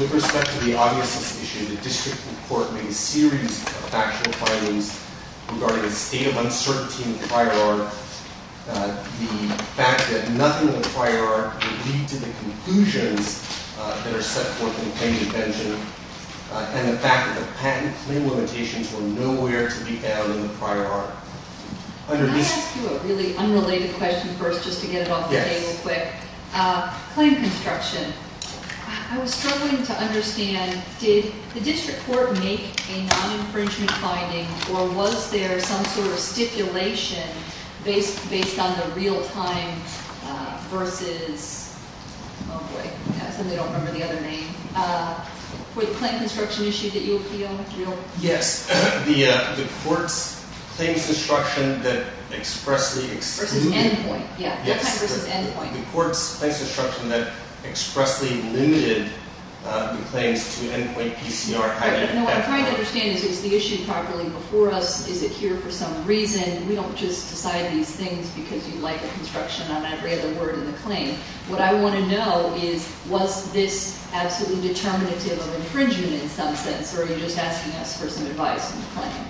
With respect to the obviousness issue, the District Court made a series of factual findings regarding a state of uncertainty in the prior art, the fact that nothing in the prior art would lead to the conclusions that are set forth in the claim to vengeance, and the fact that the patent claim limitations were nowhere to be found in the prior art. Can I ask you a really unrelated question first, just to get it off the table quick? Yes. Claim construction. I was struggling to understand, did the District Court make a non-infringement finding, or was there some sort of stipulation based on the real-time versus, oh boy, I suddenly don't remember the other name, for the claim construction issue that you appealed? Yes. The court's claims construction that expressly excluded... Versus endpoint, yeah. Yes. Non-time versus endpoint. The court's claims construction that expressly limited the claims to endpoint PCR... No, what I'm trying to understand is, is the issue properly before us? Is it here for some reason? We don't just decide these things because you like the construction on every other word in the claim. What I want to know is, was this absolutely determinative of infringement in some sense, or are you just asking us for some advice on the claim?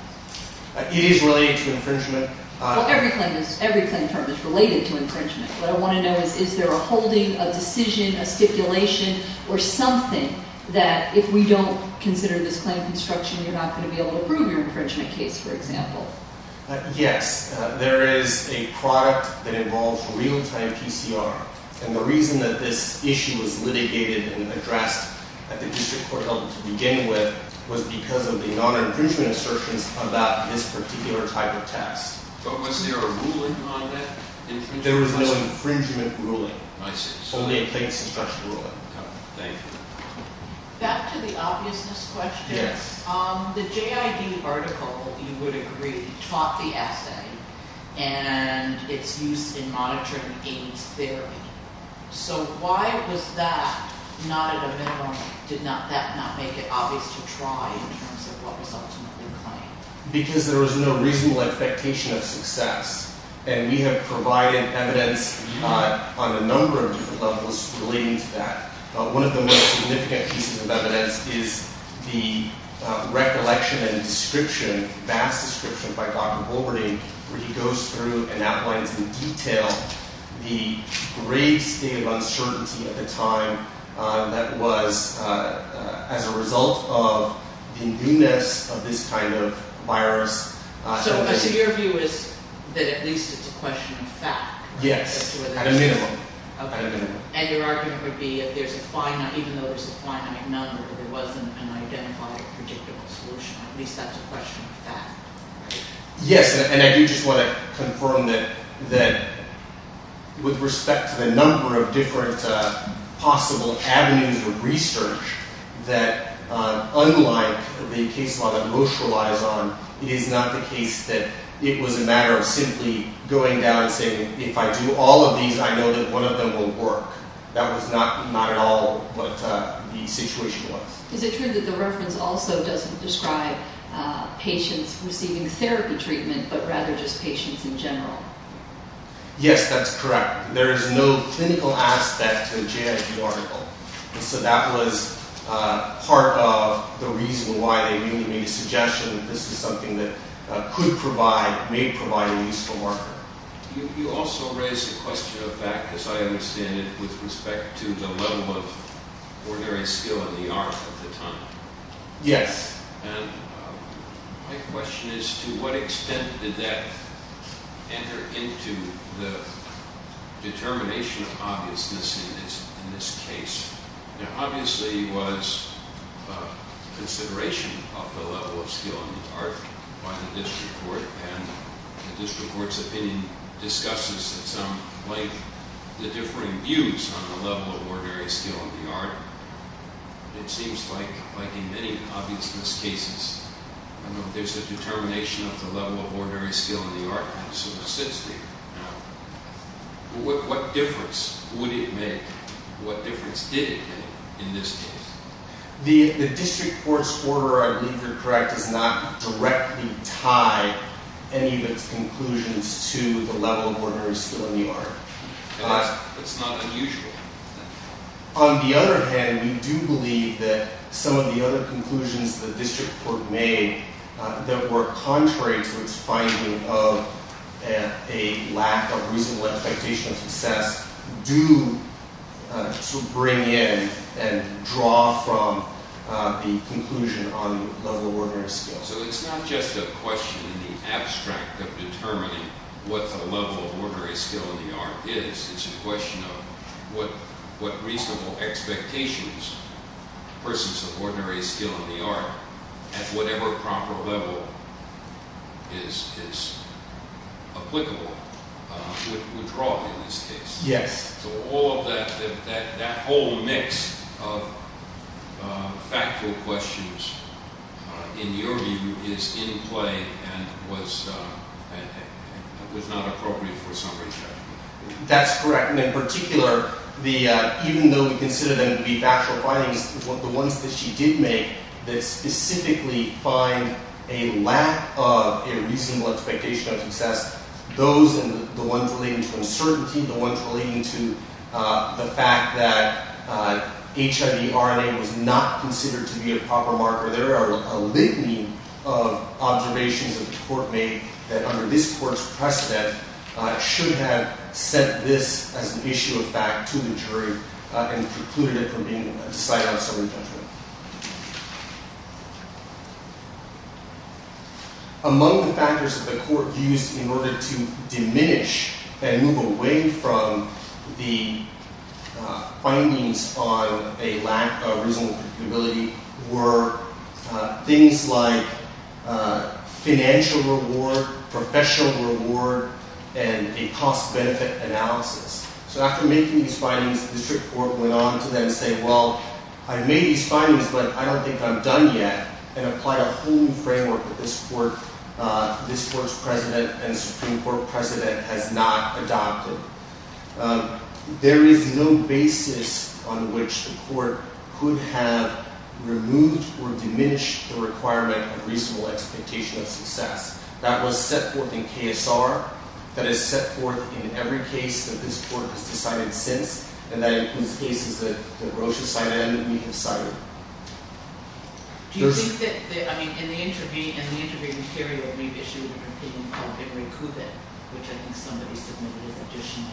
It is related to infringement. Well, every claim term is related to infringement. What I want to know is, is there a holding, a decision, a stipulation, or something that, if we don't consider this claim construction, you're not going to be able to prove your infringement case, for example? Yes. There is a product that involves real-time PCR, and the reason that this issue was litigated and addressed at the district court level to begin with was because of the non-infringement assertions about this particular type of test. But was there a ruling on that infringement? There was no infringement ruling. I see. Only a claims construction ruling. Okay. Thank you. Back to the obviousness question. Yes. The JID article, you would agree, taught the essay and its use in monitoring AIMS theory. So why was that not at a minimum, did that not make it obvious to try in terms of what was ultimately claimed? Because there was no reasonable expectation of success, and we have provided evidence on a number of different levels relating to that. One of the most significant pieces of evidence is the recollection and description, vast description, by Dr. Bulwerding, where he goes through and outlines in detail the great scale of uncertainty at the time that was as a result of the newness of this kind of virus. So your view is that at least it's a question of fact? Yes, at a minimum. And your argument would be that even though there's a finite number, there wasn't an identified, predictable solution. At least that's a question of fact. Yes, and I do just want to confirm that with respect to the number of different possible avenues of research, that unlike the case law that most relies on, it is not the case that it was a matter of simply going down and saying, if I do all of these, I know that one of them will work. That was not at all what the situation was. Is it true that the reference also doesn't describe patients receiving therapy treatment, but rather just patients in general? Yes, that's correct. There is no clinical aspect to the JIT article. And so that was part of the reason why they really made a suggestion that this is something that could provide, may provide a useful marker. You also raised the question of fact, as I understand it, with respect to the level of ordinary skill in the art at the time. Yes. And my question is, to what extent did that enter into the determination of obviousness in this case? Now, obviously it was consideration of the level of skill in the art by the district court, and the district court's opinion discusses at some point the differing views on the level of ordinary skill in the art. It seems like, like in many obviousness cases, there's a determination of the level of ordinary skill in the art, and so it sits there. Now, what difference would it make, what difference did it make in this case? The district court's order, I believe you're correct, does not directly tie any of its conclusions to the level of ordinary skill in the art. It's not unusual. On the other hand, we do believe that some of the other conclusions the district court made that were contrary to its finding of a lack of reasonable expectation of success do sort of bring in and draw from the conclusion on the level of ordinary skill. So it's not just a question in the abstract of determining what the level of ordinary skill in the art is. It's a question of what reasonable expectations persons of ordinary skill in the art at whatever proper level is applicable, would draw in this case. Yes. So all of that, that whole mix of factual questions, in your view, is in play and was not appropriate for summary judgment. That's correct. And in particular, even though we consider them to be factual findings, the ones that she did make that specifically find a lack of a reasonable expectation of success, those and the ones relating to uncertainty, the ones relating to the fact that HIV RNA was not considered to be a proper marker, there are a litany of observations that the court made that under this court's precedent should have set this as an issue of fact to the jury and precluded it from being decided on summary judgment. Among the factors that the court used in order to diminish and move away from the findings on a lack of reasonable predictability were things like financial reward, professional reward, and a cost-benefit analysis. So after making these findings, the district court went on to then say, well, I made these findings, but I don't think I'm done yet, and applied a whole new framework that this court's precedent and Supreme Court precedent has not adopted. There is no basis on which the court could have removed or diminished the requirement of reasonable expectation of success. That was set forth in KSR, that is set forth in every case that this court has decided since, and that includes cases that Rosha cited and we have cited. Do you think that, I mean, in the interview material, we've issued a complaint called Every Cupid, which I think somebody submitted as additional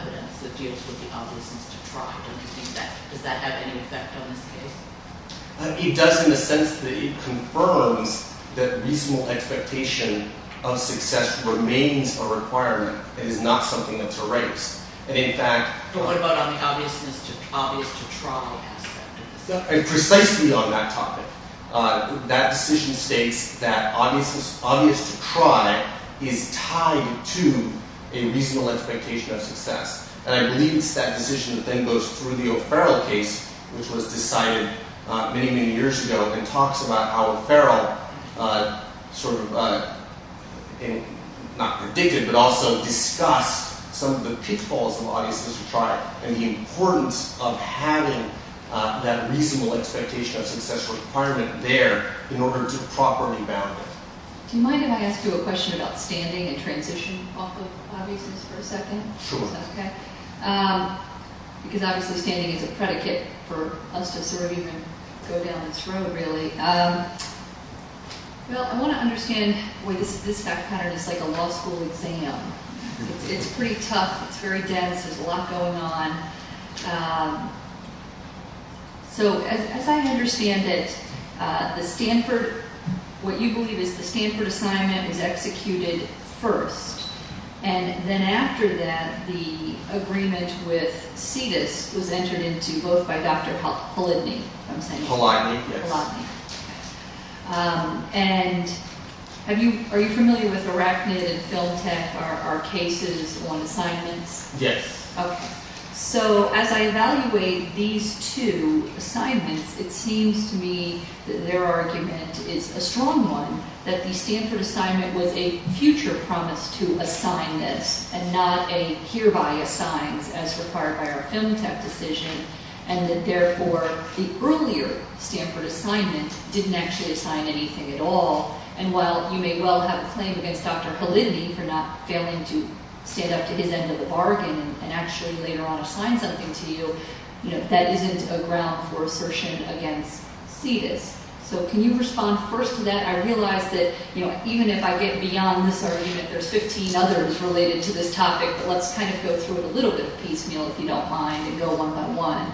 evidence that deals with the obviousness to try. Don't you think that, does that have any effect on this case? It does in the sense that it confirms that reasonable expectation of success remains a requirement. It is not something that's erased. And in fact— But what about on the obviousness to try aspect? Precisely on that topic. That decision states that obviousness to try is tied to a reasonable expectation of success. And I believe it's that decision that then goes through the O'Farrell case, which was decided many, many years ago, and talks about how O'Farrell sort of, not predicted, but also discussed some of the pitfalls of obviousness to try, and the importance of having that reasonable expectation of success requirement there in order to properly bound it. Do you mind if I ask you a question about standing and transition off of obviousness for a second? Sure. Is that okay? Because obviously standing is a predicate for us to sort of even go down this road, really. Well, I want to understand—this pattern is like a law school exam. It's pretty tough. It's very dense. There's a lot going on. So, as I understand it, the Stanford—what you believe is the Stanford assignment is executed first. And then after that, the agreement with CETUS was entered into both by Dr. Polanyi. Polanyi, yes. Polanyi. And are you familiar with Arachnid and Film Tech, our cases on assignments? Yes. Okay. So, as I evaluate these two assignments, it seems to me that their argument is a strong one, that the Stanford assignment was a future promise to assign this, and not a hereby assigns as required by our Film Tech decision, and that therefore the earlier Stanford assignment didn't actually assign anything at all. And while you may well have a claim against Dr. Polanyi for not failing to stand up to his end of the bargain and actually later on assign something to you, that isn't a ground for assertion against CETUS. So, can you respond first to that? I realize that even if I get beyond this argument, there's 15 others related to this topic, but let's kind of go through it a little bit piecemeal, if you don't mind, and go one by one.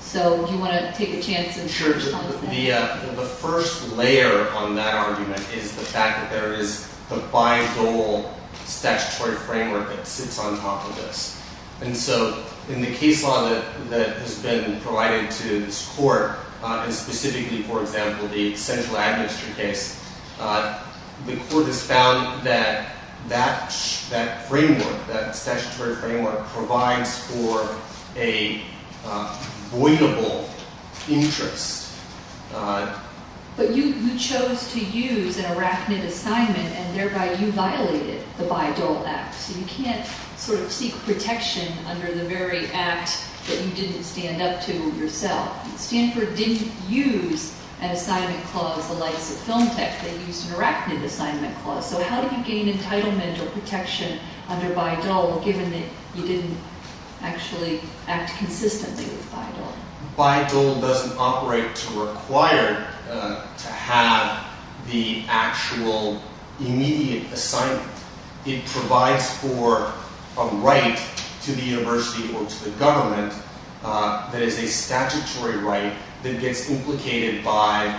So, do you want to take a chance and respond to that? The first layer on that argument is the fact that there is the by-goal statutory framework that sits on top of this. And so, in the case law that has been provided to this court, and specifically, for example, the central administration case, the court has found that that framework, that statutory framework, provides for a voidable interest. But you chose to use an arachnid assignment, and thereby you violated the by-goal act. So, you can't sort of seek protection under the very act that you didn't stand up to yourself. Stanford didn't use an assignment clause the likes of Film Tech. They used an arachnid assignment clause. So, how do you gain entitlement or protection under by-goal, given that you didn't actually act consistently with by-goal? By-goal doesn't operate to require to have the actual immediate assignment. It provides for a right to the university or to the government that is a statutory right that gets implicated by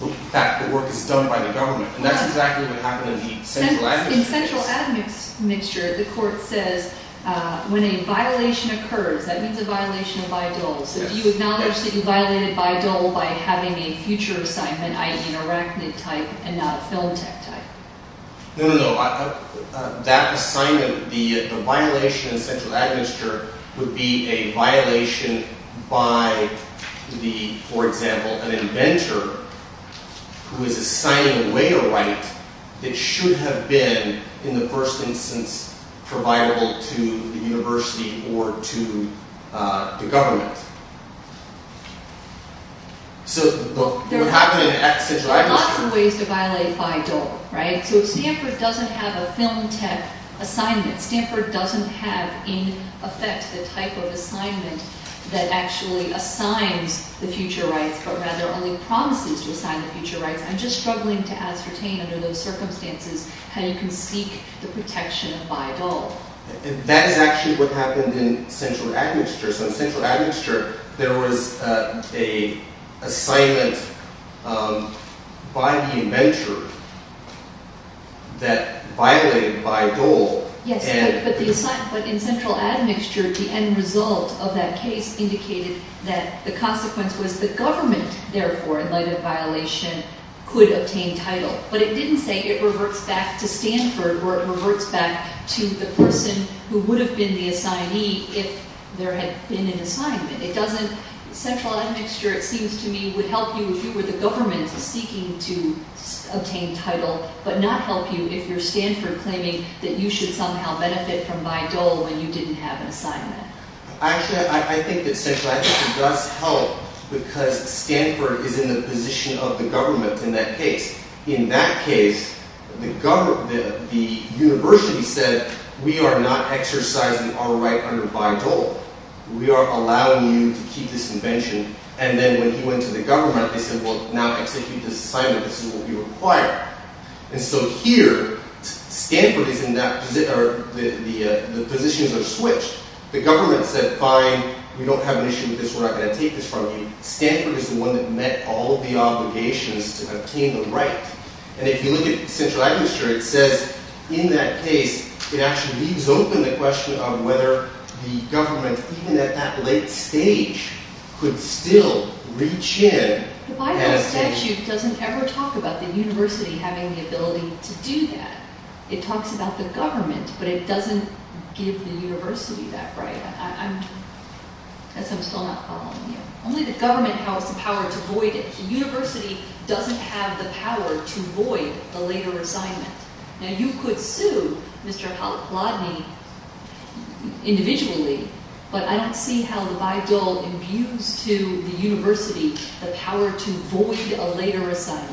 the fact that work is done by the government. And that's exactly what happened in the central admin case. In central admin's mixture, the court says, when a violation occurs, that means a violation of by-goals. No, no, no. That assignment, the violation in central admin's mixture, would be a violation by, for example, an inventor who is assigning away a right that should have been, in the first instance, providable to the university or to the government. So, it would happen in central admin's mixture. There are lots of ways to violate by-goal, right? So, Stanford doesn't have a Film Tech assignment. Stanford doesn't have, in effect, the type of assignment that actually assigns the future rights, but rather only promises to assign the future rights. I'm just struggling to ascertain, under those circumstances, how you can seek the protection of by-goal. And that is actually what happened in central admin's mixture. So, in central admin's mixture, there was an assignment by the inventor that violated by-goal. Yes, but in central admin's mixture, the end result of that case indicated that the consequence was the government, therefore, in light of violation, could obtain title. But it didn't say it reverts back to Stanford, or it reverts back to the person who would have been the assignee if there had been an assignment. Central admin's mixture, it seems to me, would help you if you were the government seeking to obtain title, but not help you if you're Stanford claiming that you should somehow benefit from by-goal when you didn't have an assignment. Actually, I think that central admin's mixture does help because Stanford is in the position of the government in that case. In that case, the university said, we are not exercising our right under by-goal. We are allowing you to keep this invention. And then when he went to the government, they said, well, now execute this assignment. This is what we require. And so here, Stanford is in that position, or the positions are switched. The government said, fine, we don't have an issue with this. We're not going to take this from you. Stanford is the one that met all of the obligations to obtain the right. And if you look at central admin's mixture, it says in that case, it actually leaves open the question of whether the government, even at that late stage, could still reach in. The by-goal statute doesn't ever talk about the university having the ability to do that. It talks about the government, but it doesn't give the university that right. I guess I'm still not following you. Only the government has the power to void it. The university doesn't have the power to void a later assignment. Now, you could sue Mr. Halakladny individually, but I don't see how the by-goal imbues to the university the power to void a later assignment.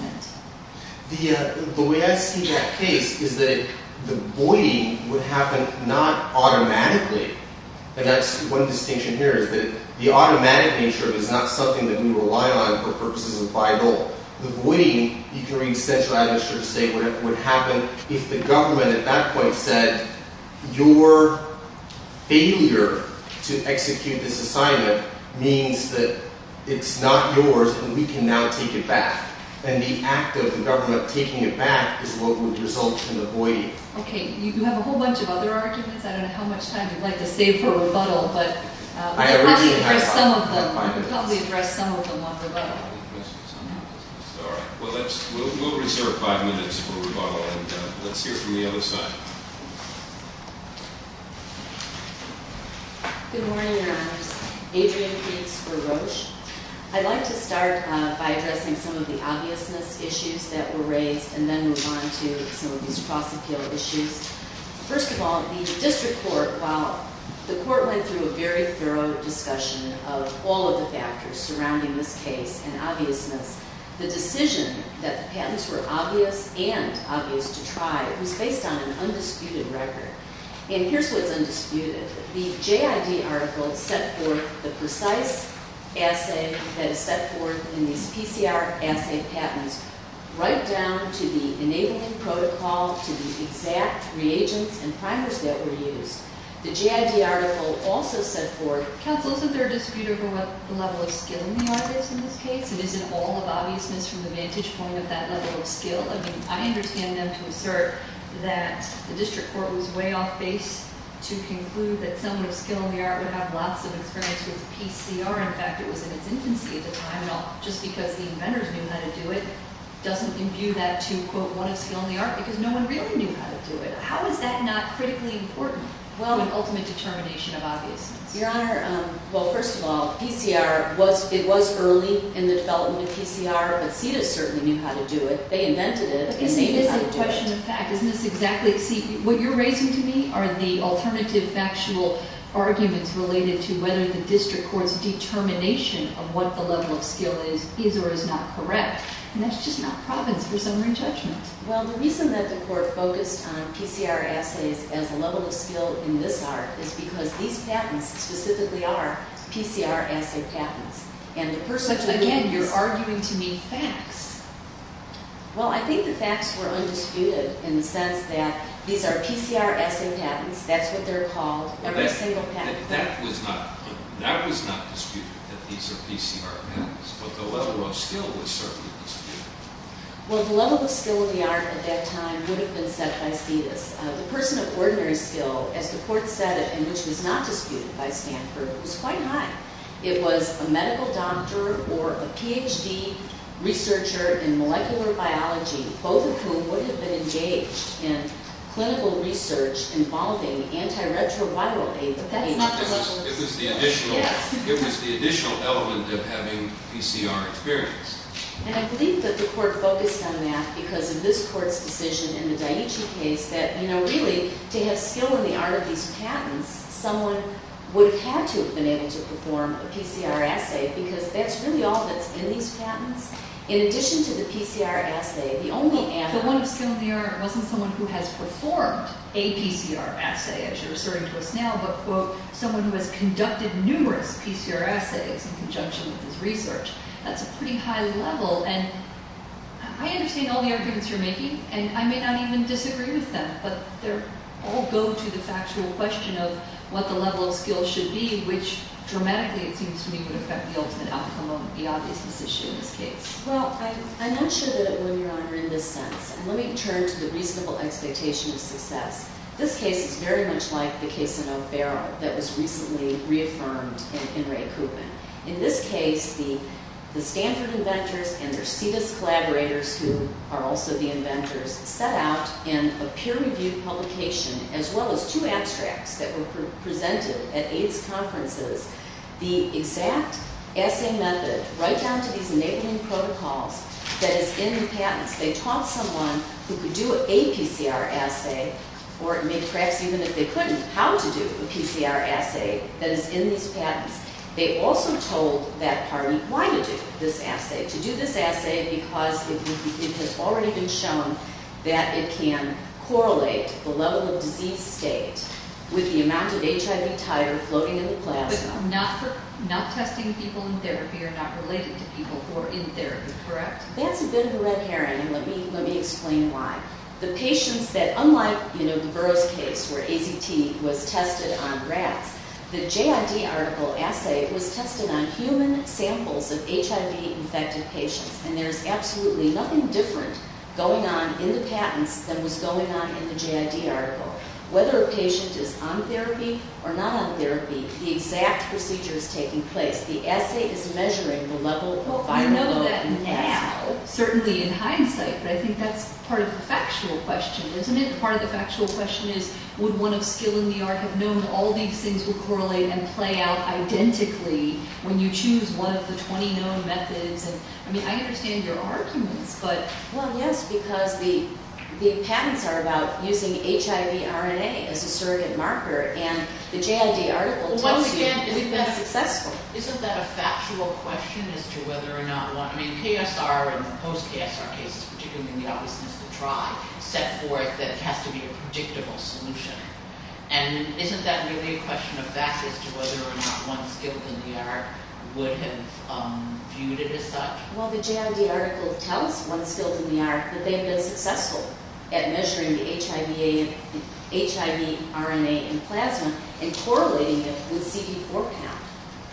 The way I see that case is that the voiding would happen not automatically. And that's one distinction here, is that the automatic nature is not something that we rely on for purposes of by-goal. The voiding, you can read Central Administrative State, would happen if the government at that point said, your failure to execute this assignment means that it's not yours and we can now take it back. And the act of the government taking it back is what would result in the voiding. Okay, you have a whole bunch of other arguments. I don't know how much time you'd like to save for rebuttal, but we can probably address some of them on rebuttal. All right, we'll reserve five minutes for rebuttal, and let's hear from the other side. Good morning, Your Honors. I'd like to start by addressing some of the obviousness issues that were raised and then move on to some of these cross-appeal issues. First of all, the district court, while the court went through a very thorough discussion of all of the factors surrounding this case and obviousness, the decision that the patents were obvious and obvious to try was based on an undisputed record. And here's what's undisputed. The JID article set forth the precise assay that is set forth in these PCR assay patents, right down to the enabling protocol, to the exact reagents and primers that were used. The JID article also set forth- Counsel, isn't there a dispute over what the level of skill in the art is in this case? And isn't all of obviousness from the vantage point of that level of skill? I mean, I understand them to assert that the district court was way off base to conclude that someone with skill in the art would have lots of experience with PCR. In fact, it was in its infancy at the time. Now, just because the inventors knew how to do it doesn't imbue that to, quote, one of skill in the art, because no one really knew how to do it. How is that not critically important to the ultimate determination of obviousness? Your Honor, well, first of all, PCR was- it was early in the development of PCR, but CIDA certainly knew how to do it. They invented it. Isn't this a question of fact? Isn't this exactly- see, what you're raising to me are the alternative factual arguments related to whether the district court's determination of what the level of skill is, is or is not correct. And that's just not province for summary judgment. Well, the reason that the court focused on PCR assays as a level of skill in this art is because these patents specifically are PCR assay patents. Again, you're arguing to me facts. Well, I think the facts were undisputed in the sense that these are PCR assay patents. That's what they're called. Every single patent. That was not disputed, that these are PCR patents, but the level of skill was certainly disputed. Well, the level of skill in the art at that time would have been set by CIDA. The person of ordinary skill, as the court said it, and which was not disputed by Stanford, was quite high. It was a medical doctor or a Ph.D. researcher in molecular biology, both of whom would have been engaged in clinical research involving antiretroviral aid. But that's not the level of skill. It was the additional element of having PCR experience. And I believe that the court focused on that because of this court's decision in the Dietschy case that, you know, really, to have skill in the art of these patents, someone would have had to have been able to perform a PCR assay, because that's really all that's in these patents. In addition to the PCR assay, the only animal— The one of skill in the art wasn't someone who has performed a PCR assay, as you're asserting to us now, but, quote, someone who has conducted numerous PCR assays in conjunction with his research. That's a pretty high level. And I understand all the arguments you're making, and I may not even disagree with them, but they all go to the factual question of what the level of skill should be, which dramatically, it seems to me, would affect the ultimate outcome of the obvious decision in this case. Well, I'm not sure that it would, Your Honor, in this sense. And let me turn to the reasonable expectation of success. This case is very much like the case in O'Barrow that was recently reaffirmed in Ray Kubin. In this case, the Stanford inventors and their CDIS collaborators, who are also the inventors, set out in a peer-reviewed publication, as well as two abstracts that were presented at AIDS conferences, the exact assay method, right down to these enabling protocols, that is in the patents. They taught someone who could do a PCR assay, or perhaps even if they couldn't, how to do a PCR assay that is in these patents. They also told that party why to do this assay. To do this assay because it has already been shown that it can correlate the level of disease state with the amount of HIV titer floating in the plasma. But not testing people in therapy are not related to people who are in therapy, correct? That's a bit of a red herring, and let me explain why. The patients that, unlike the Burroughs case where AZT was tested on rats, the JID article assay was tested on human samples of HIV-infected patients. And there's absolutely nothing different going on in the patents than was going on in the JID article. Whether a patient is on therapy or not on therapy, the exact procedure is taking place. The assay is measuring the level of viral load. Certainly in hindsight, but I think that's part of the factual question, isn't it? Part of the factual question is, would one of skill in the art have known all these things would correlate and play out identically when you choose one of the 20 known methods? I mean, I understand your arguments, but... Well, yes, because the patents are about using HIV RNA as a surrogate marker, and the JID article tells you we've been successful. Isn't that a factual question as to whether or not one... I mean, KSR and post-KSR cases, particularly in the obviousness of the trie, set forth that it has to be a predictable solution. And isn't that really a question of fact as to whether or not one skilled in the art would have viewed it as such? Well, the JID article tells one skilled in the art that they've been successful at measuring the HIV RNA in plasma and correlating it with CD4 count.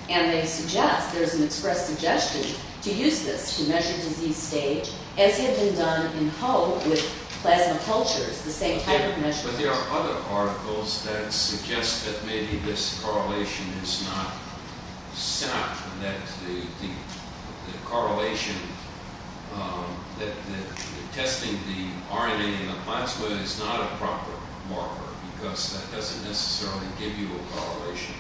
And they suggest, there's an express suggestion to use this to measure disease stage, as had been done in hope with plasma cultures, the same type of measurement. But there are other articles that suggest that maybe this correlation is not set, that the correlation, that testing the RNA in the plasma is not a proper marker, because that doesn't necessarily give you a correlation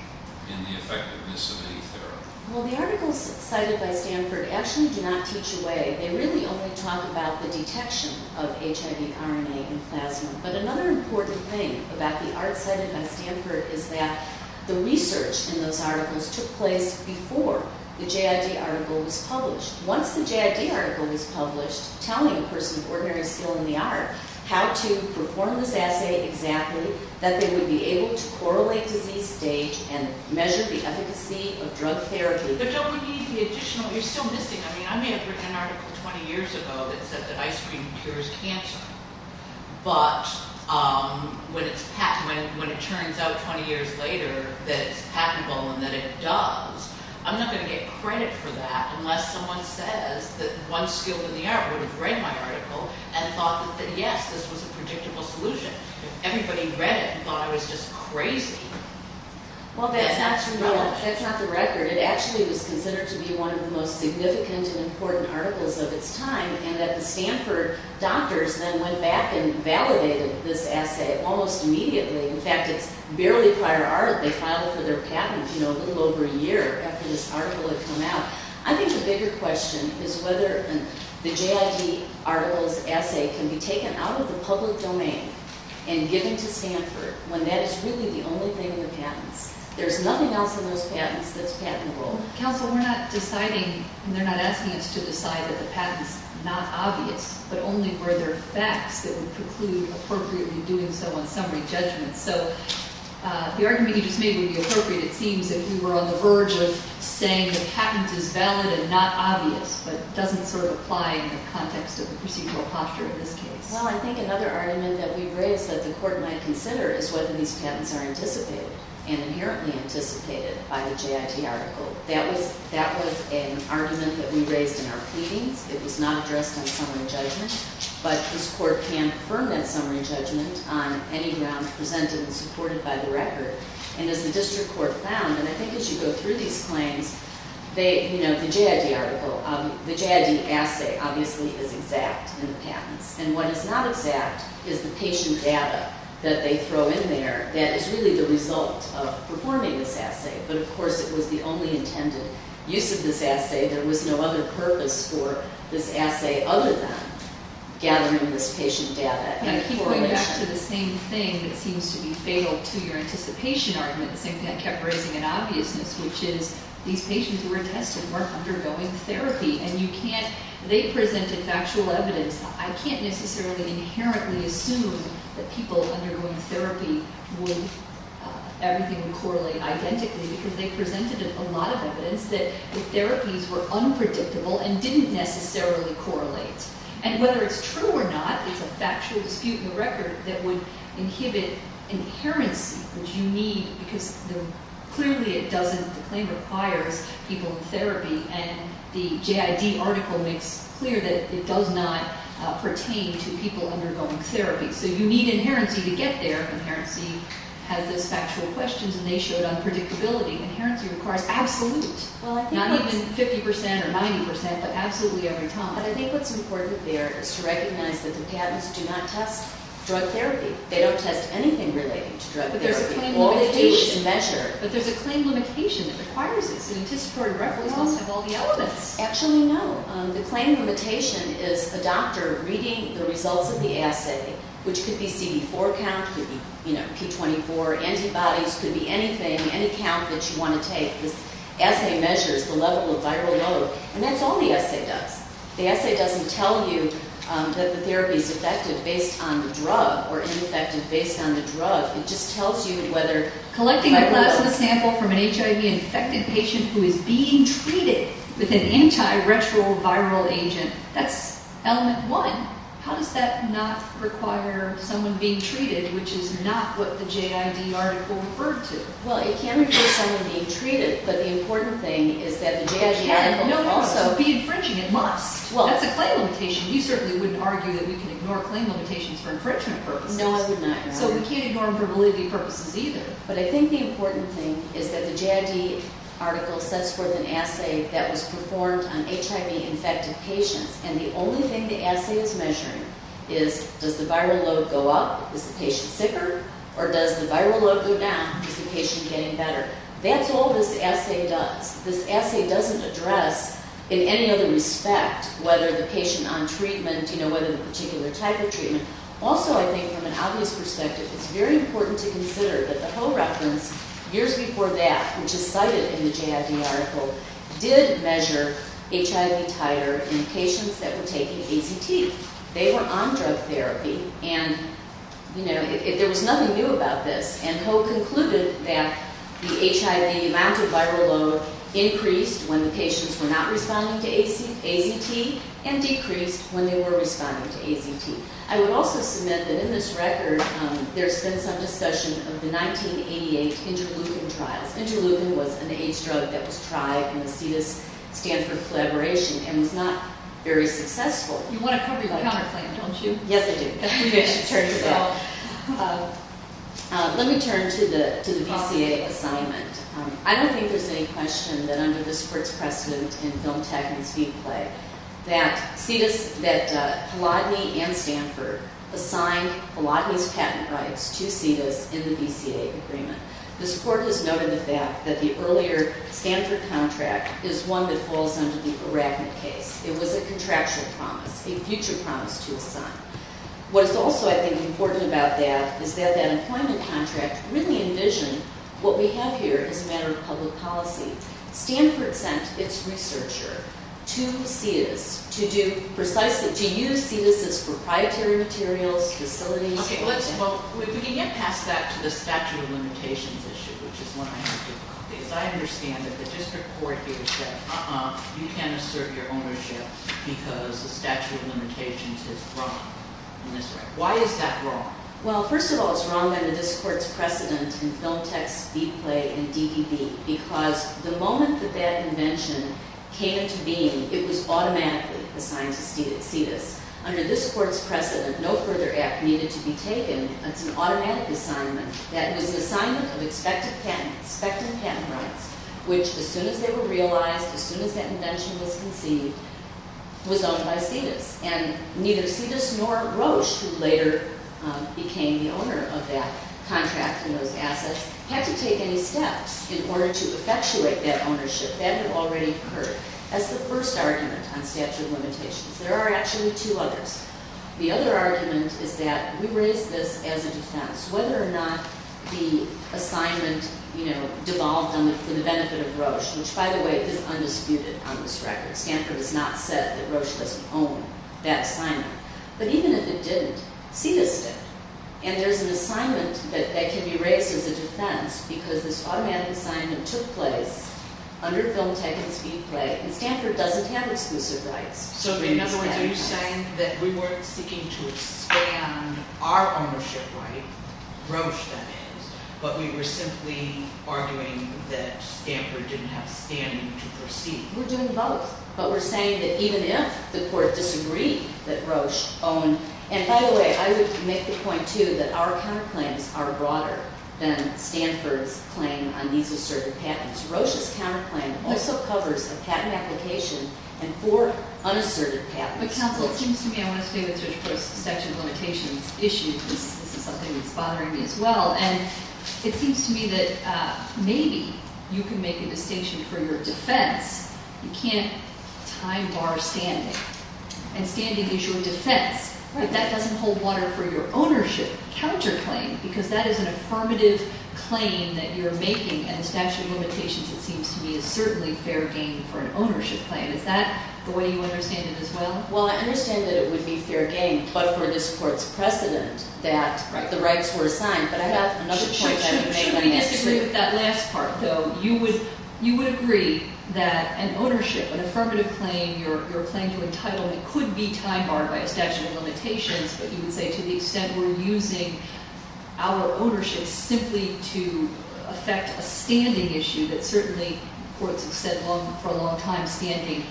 in the effectiveness of any therapy. Well, the articles cited by Stanford actually do not teach away, they really only talk about the detection of HIV RNA in plasma. But another important thing about the art cited by Stanford is that the research in those articles took place before the JID article was published. Once the JID article was published, telling a person of ordinary skill in the art how to perform this assay exactly, that they would be able to correlate disease stage and measure the efficacy of drug therapy. But don't we need the additional, you're still missing, I mean, I may have written an article 20 years ago that said that ice cream cures cancer. But when it turns out 20 years later that it's patentable and that it does, I'm not going to get credit for that, unless someone says that one skilled in the art would have read my article and thought that yes, this was a predictable solution. Everybody read it and thought I was just crazy. Well, that's not the record. It actually was considered to be one of the most significant and important articles of its time, and that the Stanford doctors then went back and validated this assay almost immediately. In fact, it's barely prior art, they filed for their patent, you know, a little over a year after this article had come out. I think the bigger question is whether the JID article's assay can be taken out of the public domain and given to Stanford when that is really the only thing in the patents. There's nothing else in those patents that's patentable. Counsel, we're not deciding, they're not asking us to decide that the patent's not obvious, but only were there facts that would preclude appropriately doing so on summary judgments. So the argument you just made would be appropriate, it seems, if we were on the verge of saying the patent is valid and not obvious, but doesn't sort of apply in the context of the procedural posture in this case. Well, I think another argument that we've raised that the court might consider is whether these patents are anticipated and inherently anticipated by the JID article. That was an argument that we raised in our pleadings. It was not addressed on summary judgment, but this court can confirm that summary judgment on any grounds presented and supported by the record. And as the district court found, and I think as you go through these claims, the JID article, the JID assay obviously is exact in the patents. And what is not exact is the patient data that they throw in there that is really the result of performing this assay. But, of course, it was the only intended use of this assay. There was no other purpose for this assay other than gathering this patient data. I keep going back to the same thing that seems to be fatal to your anticipation argument, the same thing I kept raising in obviousness, which is these patients who were tested weren't undergoing therapy. And you can't, they presented factual evidence. I can't necessarily inherently assume that people undergoing therapy would, everything would correlate identically because they presented a lot of evidence that the therapies were unpredictable and didn't necessarily correlate. And whether it's true or not, it's a factual dispute in the record that would inhibit inherency, which you need, because clearly it doesn't. The claim requires people in therapy, and the JID article makes clear that it does not pertain to people undergoing therapy. So you need inherency to get there. Inherency has those factual questions, and they showed unpredictability. Inherency requires absolute, not even 50 percent or 90 percent, but absolutely every time. But I think what's important there is to recognize that the patents do not test drug therapy. They don't test anything related to drug therapy. All they do is measure. But there's a claim limitation that requires this. The anticipated reference must have all the elements. Actually, no. The claim limitation is a doctor reading the results of the assay, which could be CD4 count, could be, you know, P24, antibodies, could be anything, any count that you want to take. This assay measures the level of viral load. And that's all the assay does. The assay doesn't tell you that the therapy is effective based on the drug or ineffective based on the drug. It just tells you whether the viral load- If you have a patient who is being treated with an antiretroviral agent, that's element one. How does that not require someone being treated, which is not what the JID article referred to? Well, it can't require someone being treated. But the important thing is that the JID article also- No, no, no. To be infringing it must. That's a claim limitation. You certainly wouldn't argue that we can ignore claim limitations for infringement purposes. No, I would not. So we can't ignore them for validity purposes either. But I think the important thing is that the JID article sets forth an assay that was performed on HIV-infected patients. And the only thing the assay is measuring is does the viral load go up? Is the patient sicker? Or does the viral load go down? Is the patient getting better? That's all this assay does. This assay doesn't address in any other respect whether the patient on treatment, you know, whether the particular type of treatment. Also, I think from an obvious perspective, it's very important to consider that the Ho reference years before that, which is cited in the JID article, did measure HIV titer in patients that were taking AZT. They were on drug therapy. And, you know, there was nothing new about this. And Ho concluded that the HIV amount of viral load increased when the patients were not responding to AZT and decreased when they were responding to AZT. I would also submit that in this record, there's been some discussion of the 1988 interleukin trials. Interleukin was an AIDS drug that was tried in the CITUS-Stanford collaboration and was not very successful. You want to cover your counterclaim, don't you? Yes, I do. Let me turn to the VCA assignment. I don't think there's any question that under the sports precedent in Film, Tech, and Speed play that CITUS, that Hladny and Stanford assigned Hladny's patent rights to CITUS in the VCA agreement. This court has noted the fact that the earlier Stanford contract is one that falls under the Arachnid case. It was a contractual promise, a future promise to assign. What is also, I think, important about that is that that employment contract really envisioned what we have here as a matter of public policy. Stanford sent its researcher to CITUS to do precisely, to use CITUS as proprietary materials, facilities. Okay, let's, well, we can get past that to the statute of limitations issue, which is what I have difficulty. Because I understand that the district court here said, uh-uh, you can't assert your ownership because the statute of limitations is wrong. Why is that wrong? Well, first of all, it's wrong under this court's precedent in Film, Text, Speed, Play, and DDB. Because the moment that that invention came into being, it was automatically assigned to CITUS. Under this court's precedent, no further act needed to be taken. It's an automatic assignment. That was an assignment of expected patent rights, which as soon as they were realized, as soon as that invention was conceived, was owned by CITUS. And neither CITUS nor Roche, who later became the owner of that contract and those assets, had to take any steps in order to effectuate that ownership. That had already occurred. That's the first argument on statute of limitations. There are actually two others. The other argument is that we raise this as a defense. Whether or not the assignment, you know, devolved for the benefit of Roche, which, by the way, is undisputed on this record. Stanford has not said that Roche doesn't own that assignment. But even if it didn't, CITUS did. And there's an assignment that can be raised as a defense because this automatic assignment took place under Film Tech and Speedplay, and Stanford doesn't have exclusive rights. So in other words, are you saying that we weren't seeking to expand our ownership, right? Roche, that is. But we were simply arguing that Stanford didn't have standing to proceed. We're doing both. But we're saying that even if the court disagreed that Roche owned And, by the way, I would make the point, too, that our counterclaims are broader than Stanford's claim on these asserted patents. Roche's counterclaim also covers a patent application and four unasserted patents. But, counsel, it seems to me I want to stay with Judge Prost's statute of limitations issue. This is something that's bothering me as well. And it seems to me that maybe you can make a distinction for your defense. You can't time bar standing. And standing is your defense. But that doesn't hold water for your ownership counterclaim because that is an affirmative claim that you're making. And the statute of limitations, it seems to me, is certainly fair game for an ownership claim. Is that the way you understand it as well? Well, I understand that it would be fair game, but for this court's precedent that the rights were assigned. But I have another point I would make. I disagree with that last part, though. You would agree that an ownership, an affirmative claim, your claim to entitlement could be time barred by a statute of limitations. But you would say to the extent we're using our ownership simply to affect a standing issue that certainly courts have said for a long time standing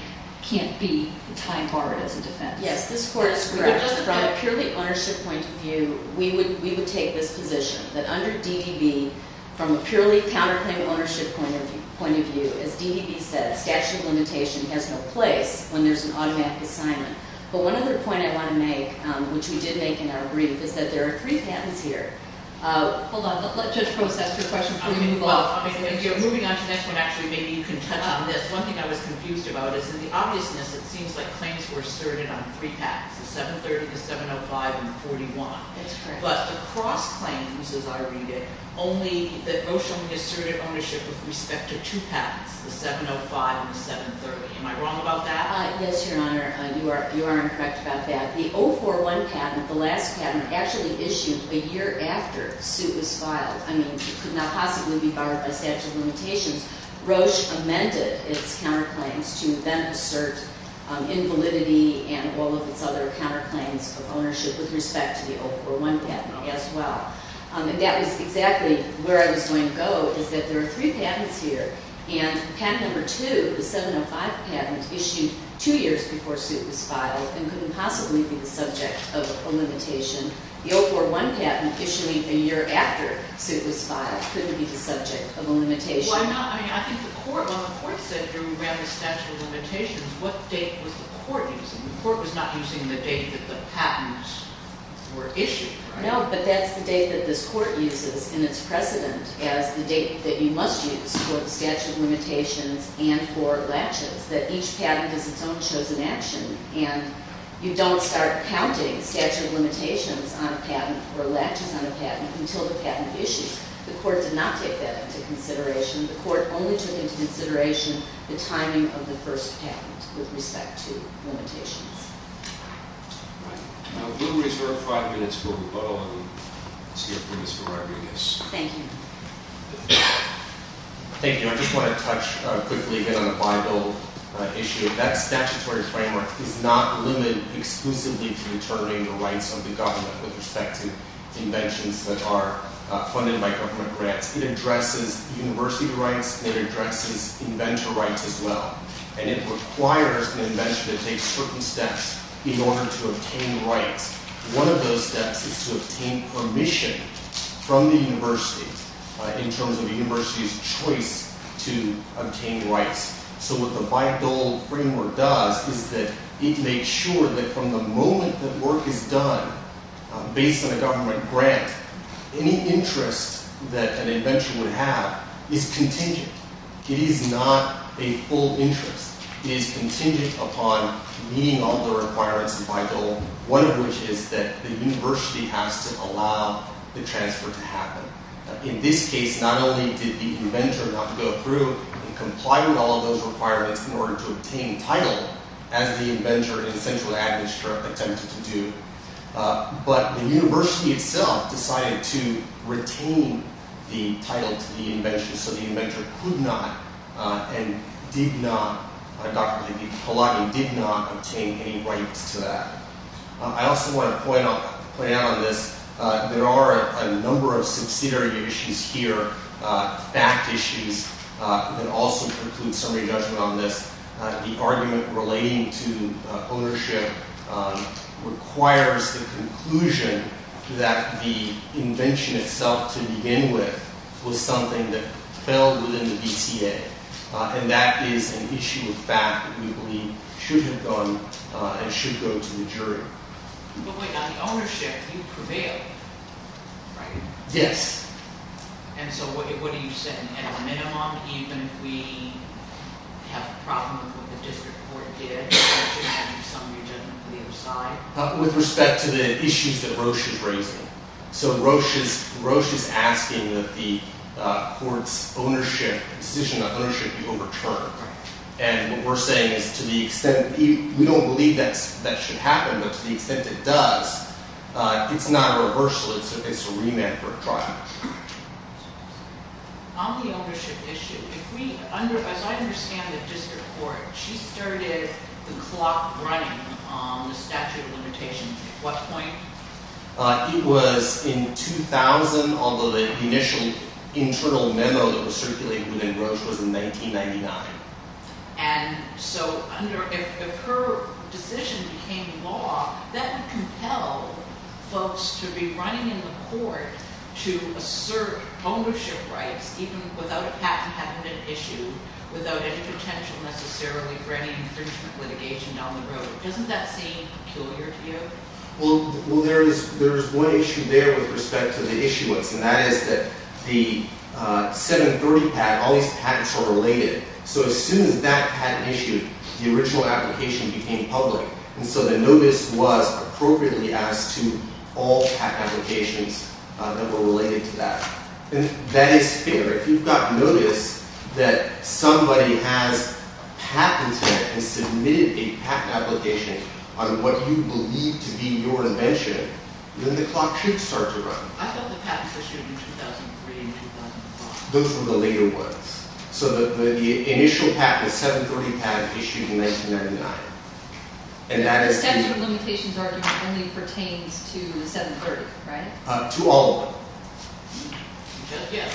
can't be time barred as a defense. Yes, this court is correct. From a purely ownership point of view, we would take this position that under DDB, from a purely counterclaim ownership point of view, as DDB said, statute of limitation has no place when there's an automatic assignment. But one other point I want to make, which we did make in our brief, is that there are three patents here. Hold on. Let Judge Post ask her question before we move on. Moving on to the next one, actually, maybe you can touch on this. One thing I was confused about is in the obviousness, it seems like claims were asserted on three patents, the 730, the 705, and the 41. That's correct. But across claims, as I read it, only that Roche only asserted ownership with respect to two patents, the 705 and the 730. Am I wrong about that? Yes, Your Honor. You are incorrect about that. The 041 patent, the last patent, actually issued a year after the suit was filed. I mean, it could not possibly be barred by statute of limitations. Roche amended its counterclaims to then assert invalidity and all of its other counterclaims of ownership with respect to the 041 patent as well. And that was exactly where I was going to go, is that there are three patents here, and patent number two, the 705 patent, issued two years before the suit was filed and couldn't possibly be the subject of a limitation. The 041 patent, issuing a year after the suit was filed, couldn't be the subject of a limitation. Well, I'm not. I mean, I think the court, when the court said we ran the statute of limitations, what date was the court using? The court was not using the date that the patents were issued. No, but that's the date that this court uses in its precedent as the date that you must use for the statute of limitations and for latches, that each patent has its own chosen action. And you don't start counting statute of limitations on a patent or latches on a patent until the patent issues. The court did not take that into consideration. The court only took into consideration the timing of the first patent with respect to limitations. All right. Now, we'll reserve five minutes for a rebuttal. And let's hear from Mr. Rodriguez. Thank you. Thank you. I just want to touch quickly again on the Bible issue. That statutory framework is not limited exclusively to determining the rights of the government with respect to inventions that are funded by government grants. It addresses university rights. It addresses inventor rights as well. And it requires an inventor to take certain steps in order to obtain rights. One of those steps is to obtain permission from the university in terms of the university's choice to obtain rights. So what the Bible framework does is that it makes sure that from the moment that work is done based on a government grant, any interest that an inventor would have is contingent. It is not a full interest. It is contingent upon meeting all the requirements in Bible, one of which is that the university has to allow the transfer to happen. In this case, not only did the inventor have to go through and comply with all of those requirements in order to obtain title, as the inventor in the central administrative attempt to do, but the university itself decided to retain the title to the invention so the inventor could not and did not, Dr. Halagian, did not obtain any rights to that. I also want to point out on this, there are a number of subsidiary issues here, fact issues that also preclude summary judgment on this. The argument relating to ownership requires the conclusion that the invention itself to begin with was something that fell within the DCA. And that is an issue of fact that we believe should have gone and should go to the jury. But wait, on the ownership, you prevailed, right? Yes. And so what are you saying? At a minimum, even if we have a problem with what the district court did, that should have summary judgment on the other side? With respect to the issues that Roche is raising. So Roche is asking that the court's decision on ownership be overturned. And what we're saying is to the extent that we don't believe that should happen, but to the extent it does, it's not a reversal, it's a remand for a trial. On the ownership issue, as I understand the district court, she started the clock running on the statute of limitations at what point? It was in 2000, although the initial internal memo that was circulated within Roche was in 1999. And so if her decision became law, that would compel folks to be running in the court to assert ownership rights even without a patent having been issued, without any potential necessarily for any infringement litigation down the road. Doesn't that seem peculiar to you? Well, there is one issue there with respect to the issuance, and that is that the 730 patent, all these patents are related. So as soon as that patent issued, the original application became public. And so the notice was appropriately asked to all patent applications that were related to that. And that is fair. If you've got notice that somebody has patented and submitted a patent application on what you believe to be your invention, then the clock should start to run. I thought the patents issued in 2003 and 2005. Those were the later ones. So the initial patent, the 730 patent issued in 1999. The statute of limitations argument only pertains to the 730, right? To all of them. Yeah,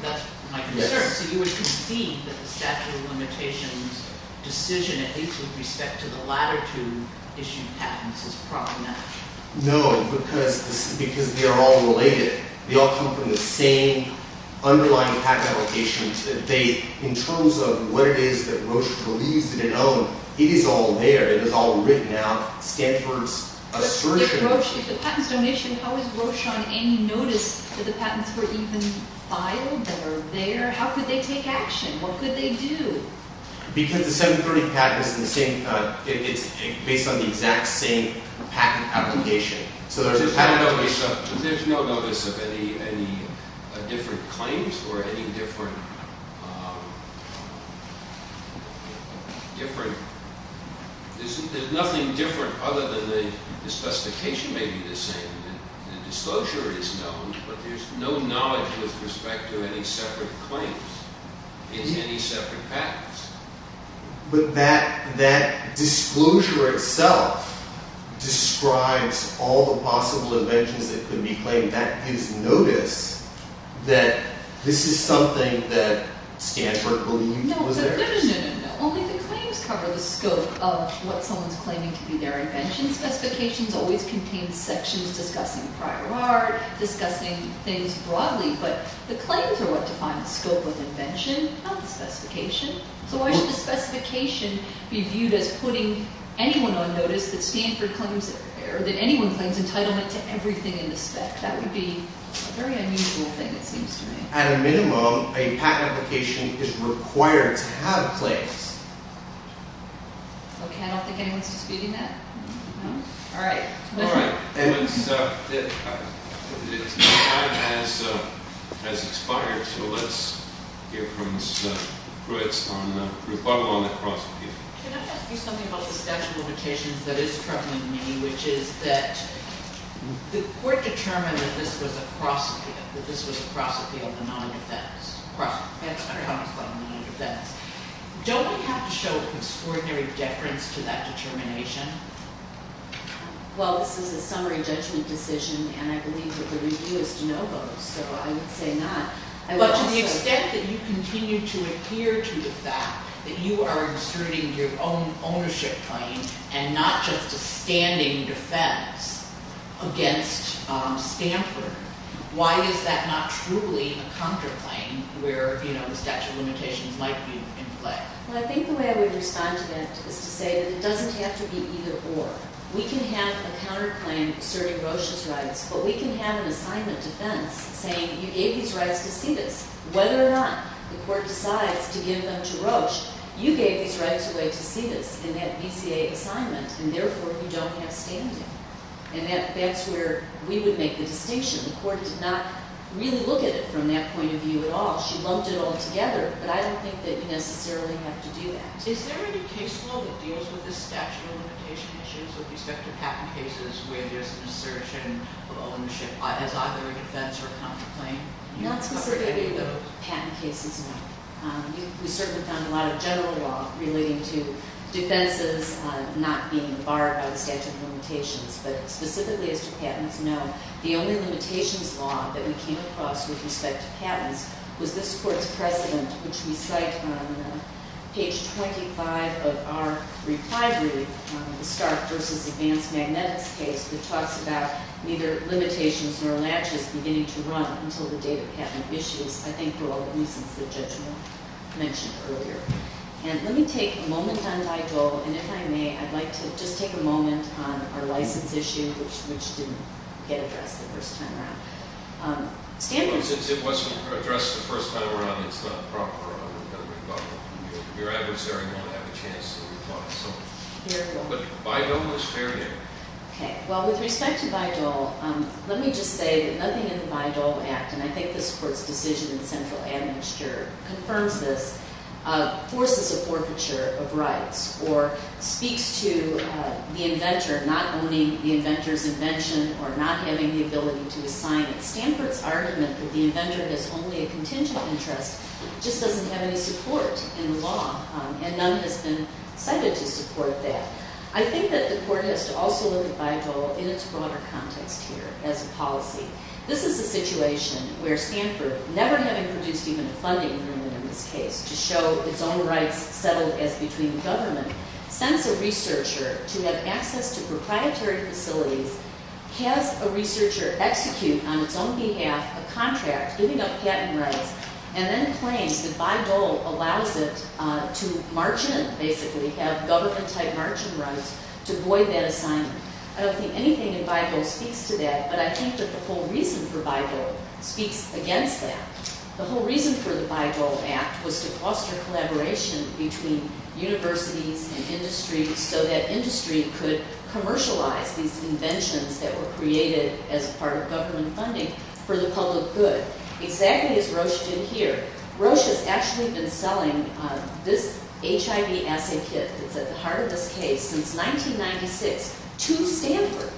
that's my concern. So you would concede that the statute of limitations decision, at least with respect to the latter two issued patents, is properly matched? No, because they are all related. They all come from the same underlying patent application. In terms of what it is that Roche believes in and owns, it is all there. It is all written out. Stanford's assertion... If the patent is donation, how is Roche on any notice that the patents were even filed that are there? How could they take action? What could they do? Because the 730 patent is based on the exact same patent application. There is no notice of any different claims or any different... There is nothing different other than the specification may be the same. The disclosure is known, but there is no knowledge with respect to any separate claims in any separate patents. But that disclosure itself describes all the possible inventions that could be claimed. That is notice that this is something that Stanford believed was theirs. No, no, no, no, no. Only the claims cover the scope of what someone is claiming to be their invention. Specifications always contain sections discussing prior art, discussing things broadly. But the claims are what define the scope of invention, not the specification. So why should the specification be viewed as putting anyone on notice that Stanford claims... or that anyone claims entitlement to everything in the spec? That would be a very unusual thing, it seems to me. At a minimum, a patent application is required to have claims. Okay, I don't think anyone is disputing that. All right. All right. Time has expired, so let's hear from Pruitt on the rebuttal on the cross-appeal. Can I ask you something about the statute of limitations that is troubling me, which is that the court determined that this was a cross-appeal. That this was a cross-appeal of a non-defense. Cross-appeal. That's what comes by a non-defense. Don't we have to show an extraordinary deference to that determination? Well, this is a summary judgment decision, and I believe that the review is to know those. So I would say not. But to the extent that you continue to adhere to the fact that you are inserting your own ownership claim and not just a standing defense against Stanford, why is that not truly a counterclaim where the statute of limitations might be in play? Well, I think the way I would respond to that is to say that it doesn't have to be either or. We can have a counterclaim asserting Roche's rights, but we can have an assignment defense saying you gave these rights to Cetus. Whether or not the court decides to give them to Roche, you gave these rights away to Cetus in that BCA assignment, and therefore you don't have standing. And that's where we would make the distinction. The court did not really look at it from that point of view at all. She lumped it all together, but I don't think that you necessarily have to do that. Is there any case law that deals with the statute of limitation issues with respect to patent cases where there's an assertion of ownership as either a defense or a counterclaim? Not specifically patent cases, no. We certainly found a lot of general law relating to defenses not being borrowed by the statute of limitations. But specifically as to patents, no. The only limitations law that we came across with respect to patents was this court's precedent, which we cite on page 25 of our reply brief, the Stark v. Advanced Magnetics case, that talks about neither limitations nor latches beginning to run until the date of patent issues, I think for all the reasons the judge mentioned earlier. And let me take a moment on Dido, and if I may, I'd like to just take a moment on our license issue, which didn't get addressed the first time around. It wasn't addressed the first time around. It's not proper. Your adversary won't have a chance to reply. But Dido was fair there. Okay. Well, with respect to Dido, let me just say that nothing in the Dido Act, and I think this court's decision in central admixture confirms this, forces a forfeiture of rights or speaks to the inventor not owning the inventor's invention or not having the ability to assign it. Stanford's argument that the inventor has only a contingent interest just doesn't have any support in the law, and none has been cited to support that. I think that the court has to also look at Baydol in its broader context here as a policy. This is a situation where Stanford, never having produced even a funding agreement in this case to show its own rights settled as between government, sends a researcher to have access to proprietary facilities, has a researcher execute on its own behalf a contract giving up patent rights, and then claims that Baydol allows it to margin, basically, have government-type margin rights to void that assignment. I don't think anything in Baydol speaks to that, but I think that the whole reason for Baydol speaks against that. The whole reason for the Baydol Act was to foster collaboration between universities and industries so that industry could commercialize these inventions that were created as part of government funding for the public good, exactly as Roche did here. Roche has actually been selling this HIV assay kit that's at the heart of this case since 1996 to Stanford,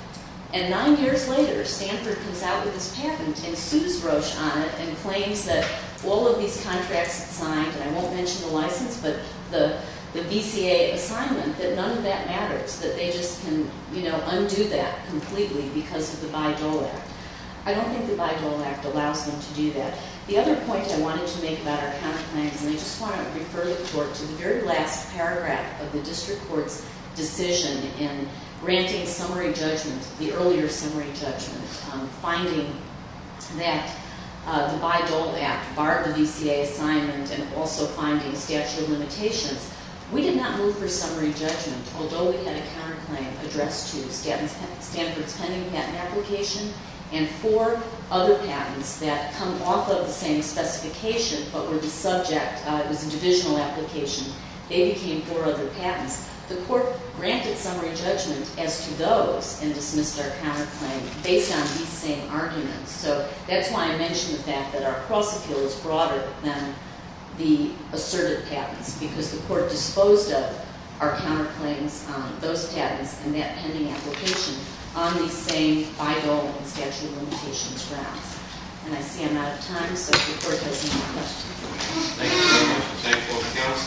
and nine years later, Stanford comes out with this patent and sues Roche on it and claims that all of these contracts signed, and I won't mention the license, but the BCA assignment, that none of that matters, that they just can undo that completely because of the Baydol Act. I don't think the Baydol Act allows them to do that. The other point I wanted to make about our counter plans, and I just want to refer the court to the very last paragraph of the district court's decision in granting summary judgment, the earlier summary judgment, finding that the Baydol Act barred the BCA assignment and also finding statute of limitations. We did not move for summary judgment, although we had a counter claim addressed to Stanford's pending patent application and four other patents that come off of the same specification but were the subject. It was a divisional application. They became four other patents. The court granted summary judgment as to those and dismissed our counter claim based on these same arguments. So that's why I mention the fact that our cross-appeal is broader than the asserted patents because the court disposed of our counter claims on those patents and that pending application on these same Baydol and statute of limitations grounds. And I see I'm out of time, so if the court has any more questions. Thank you so much. Thank you all for coming.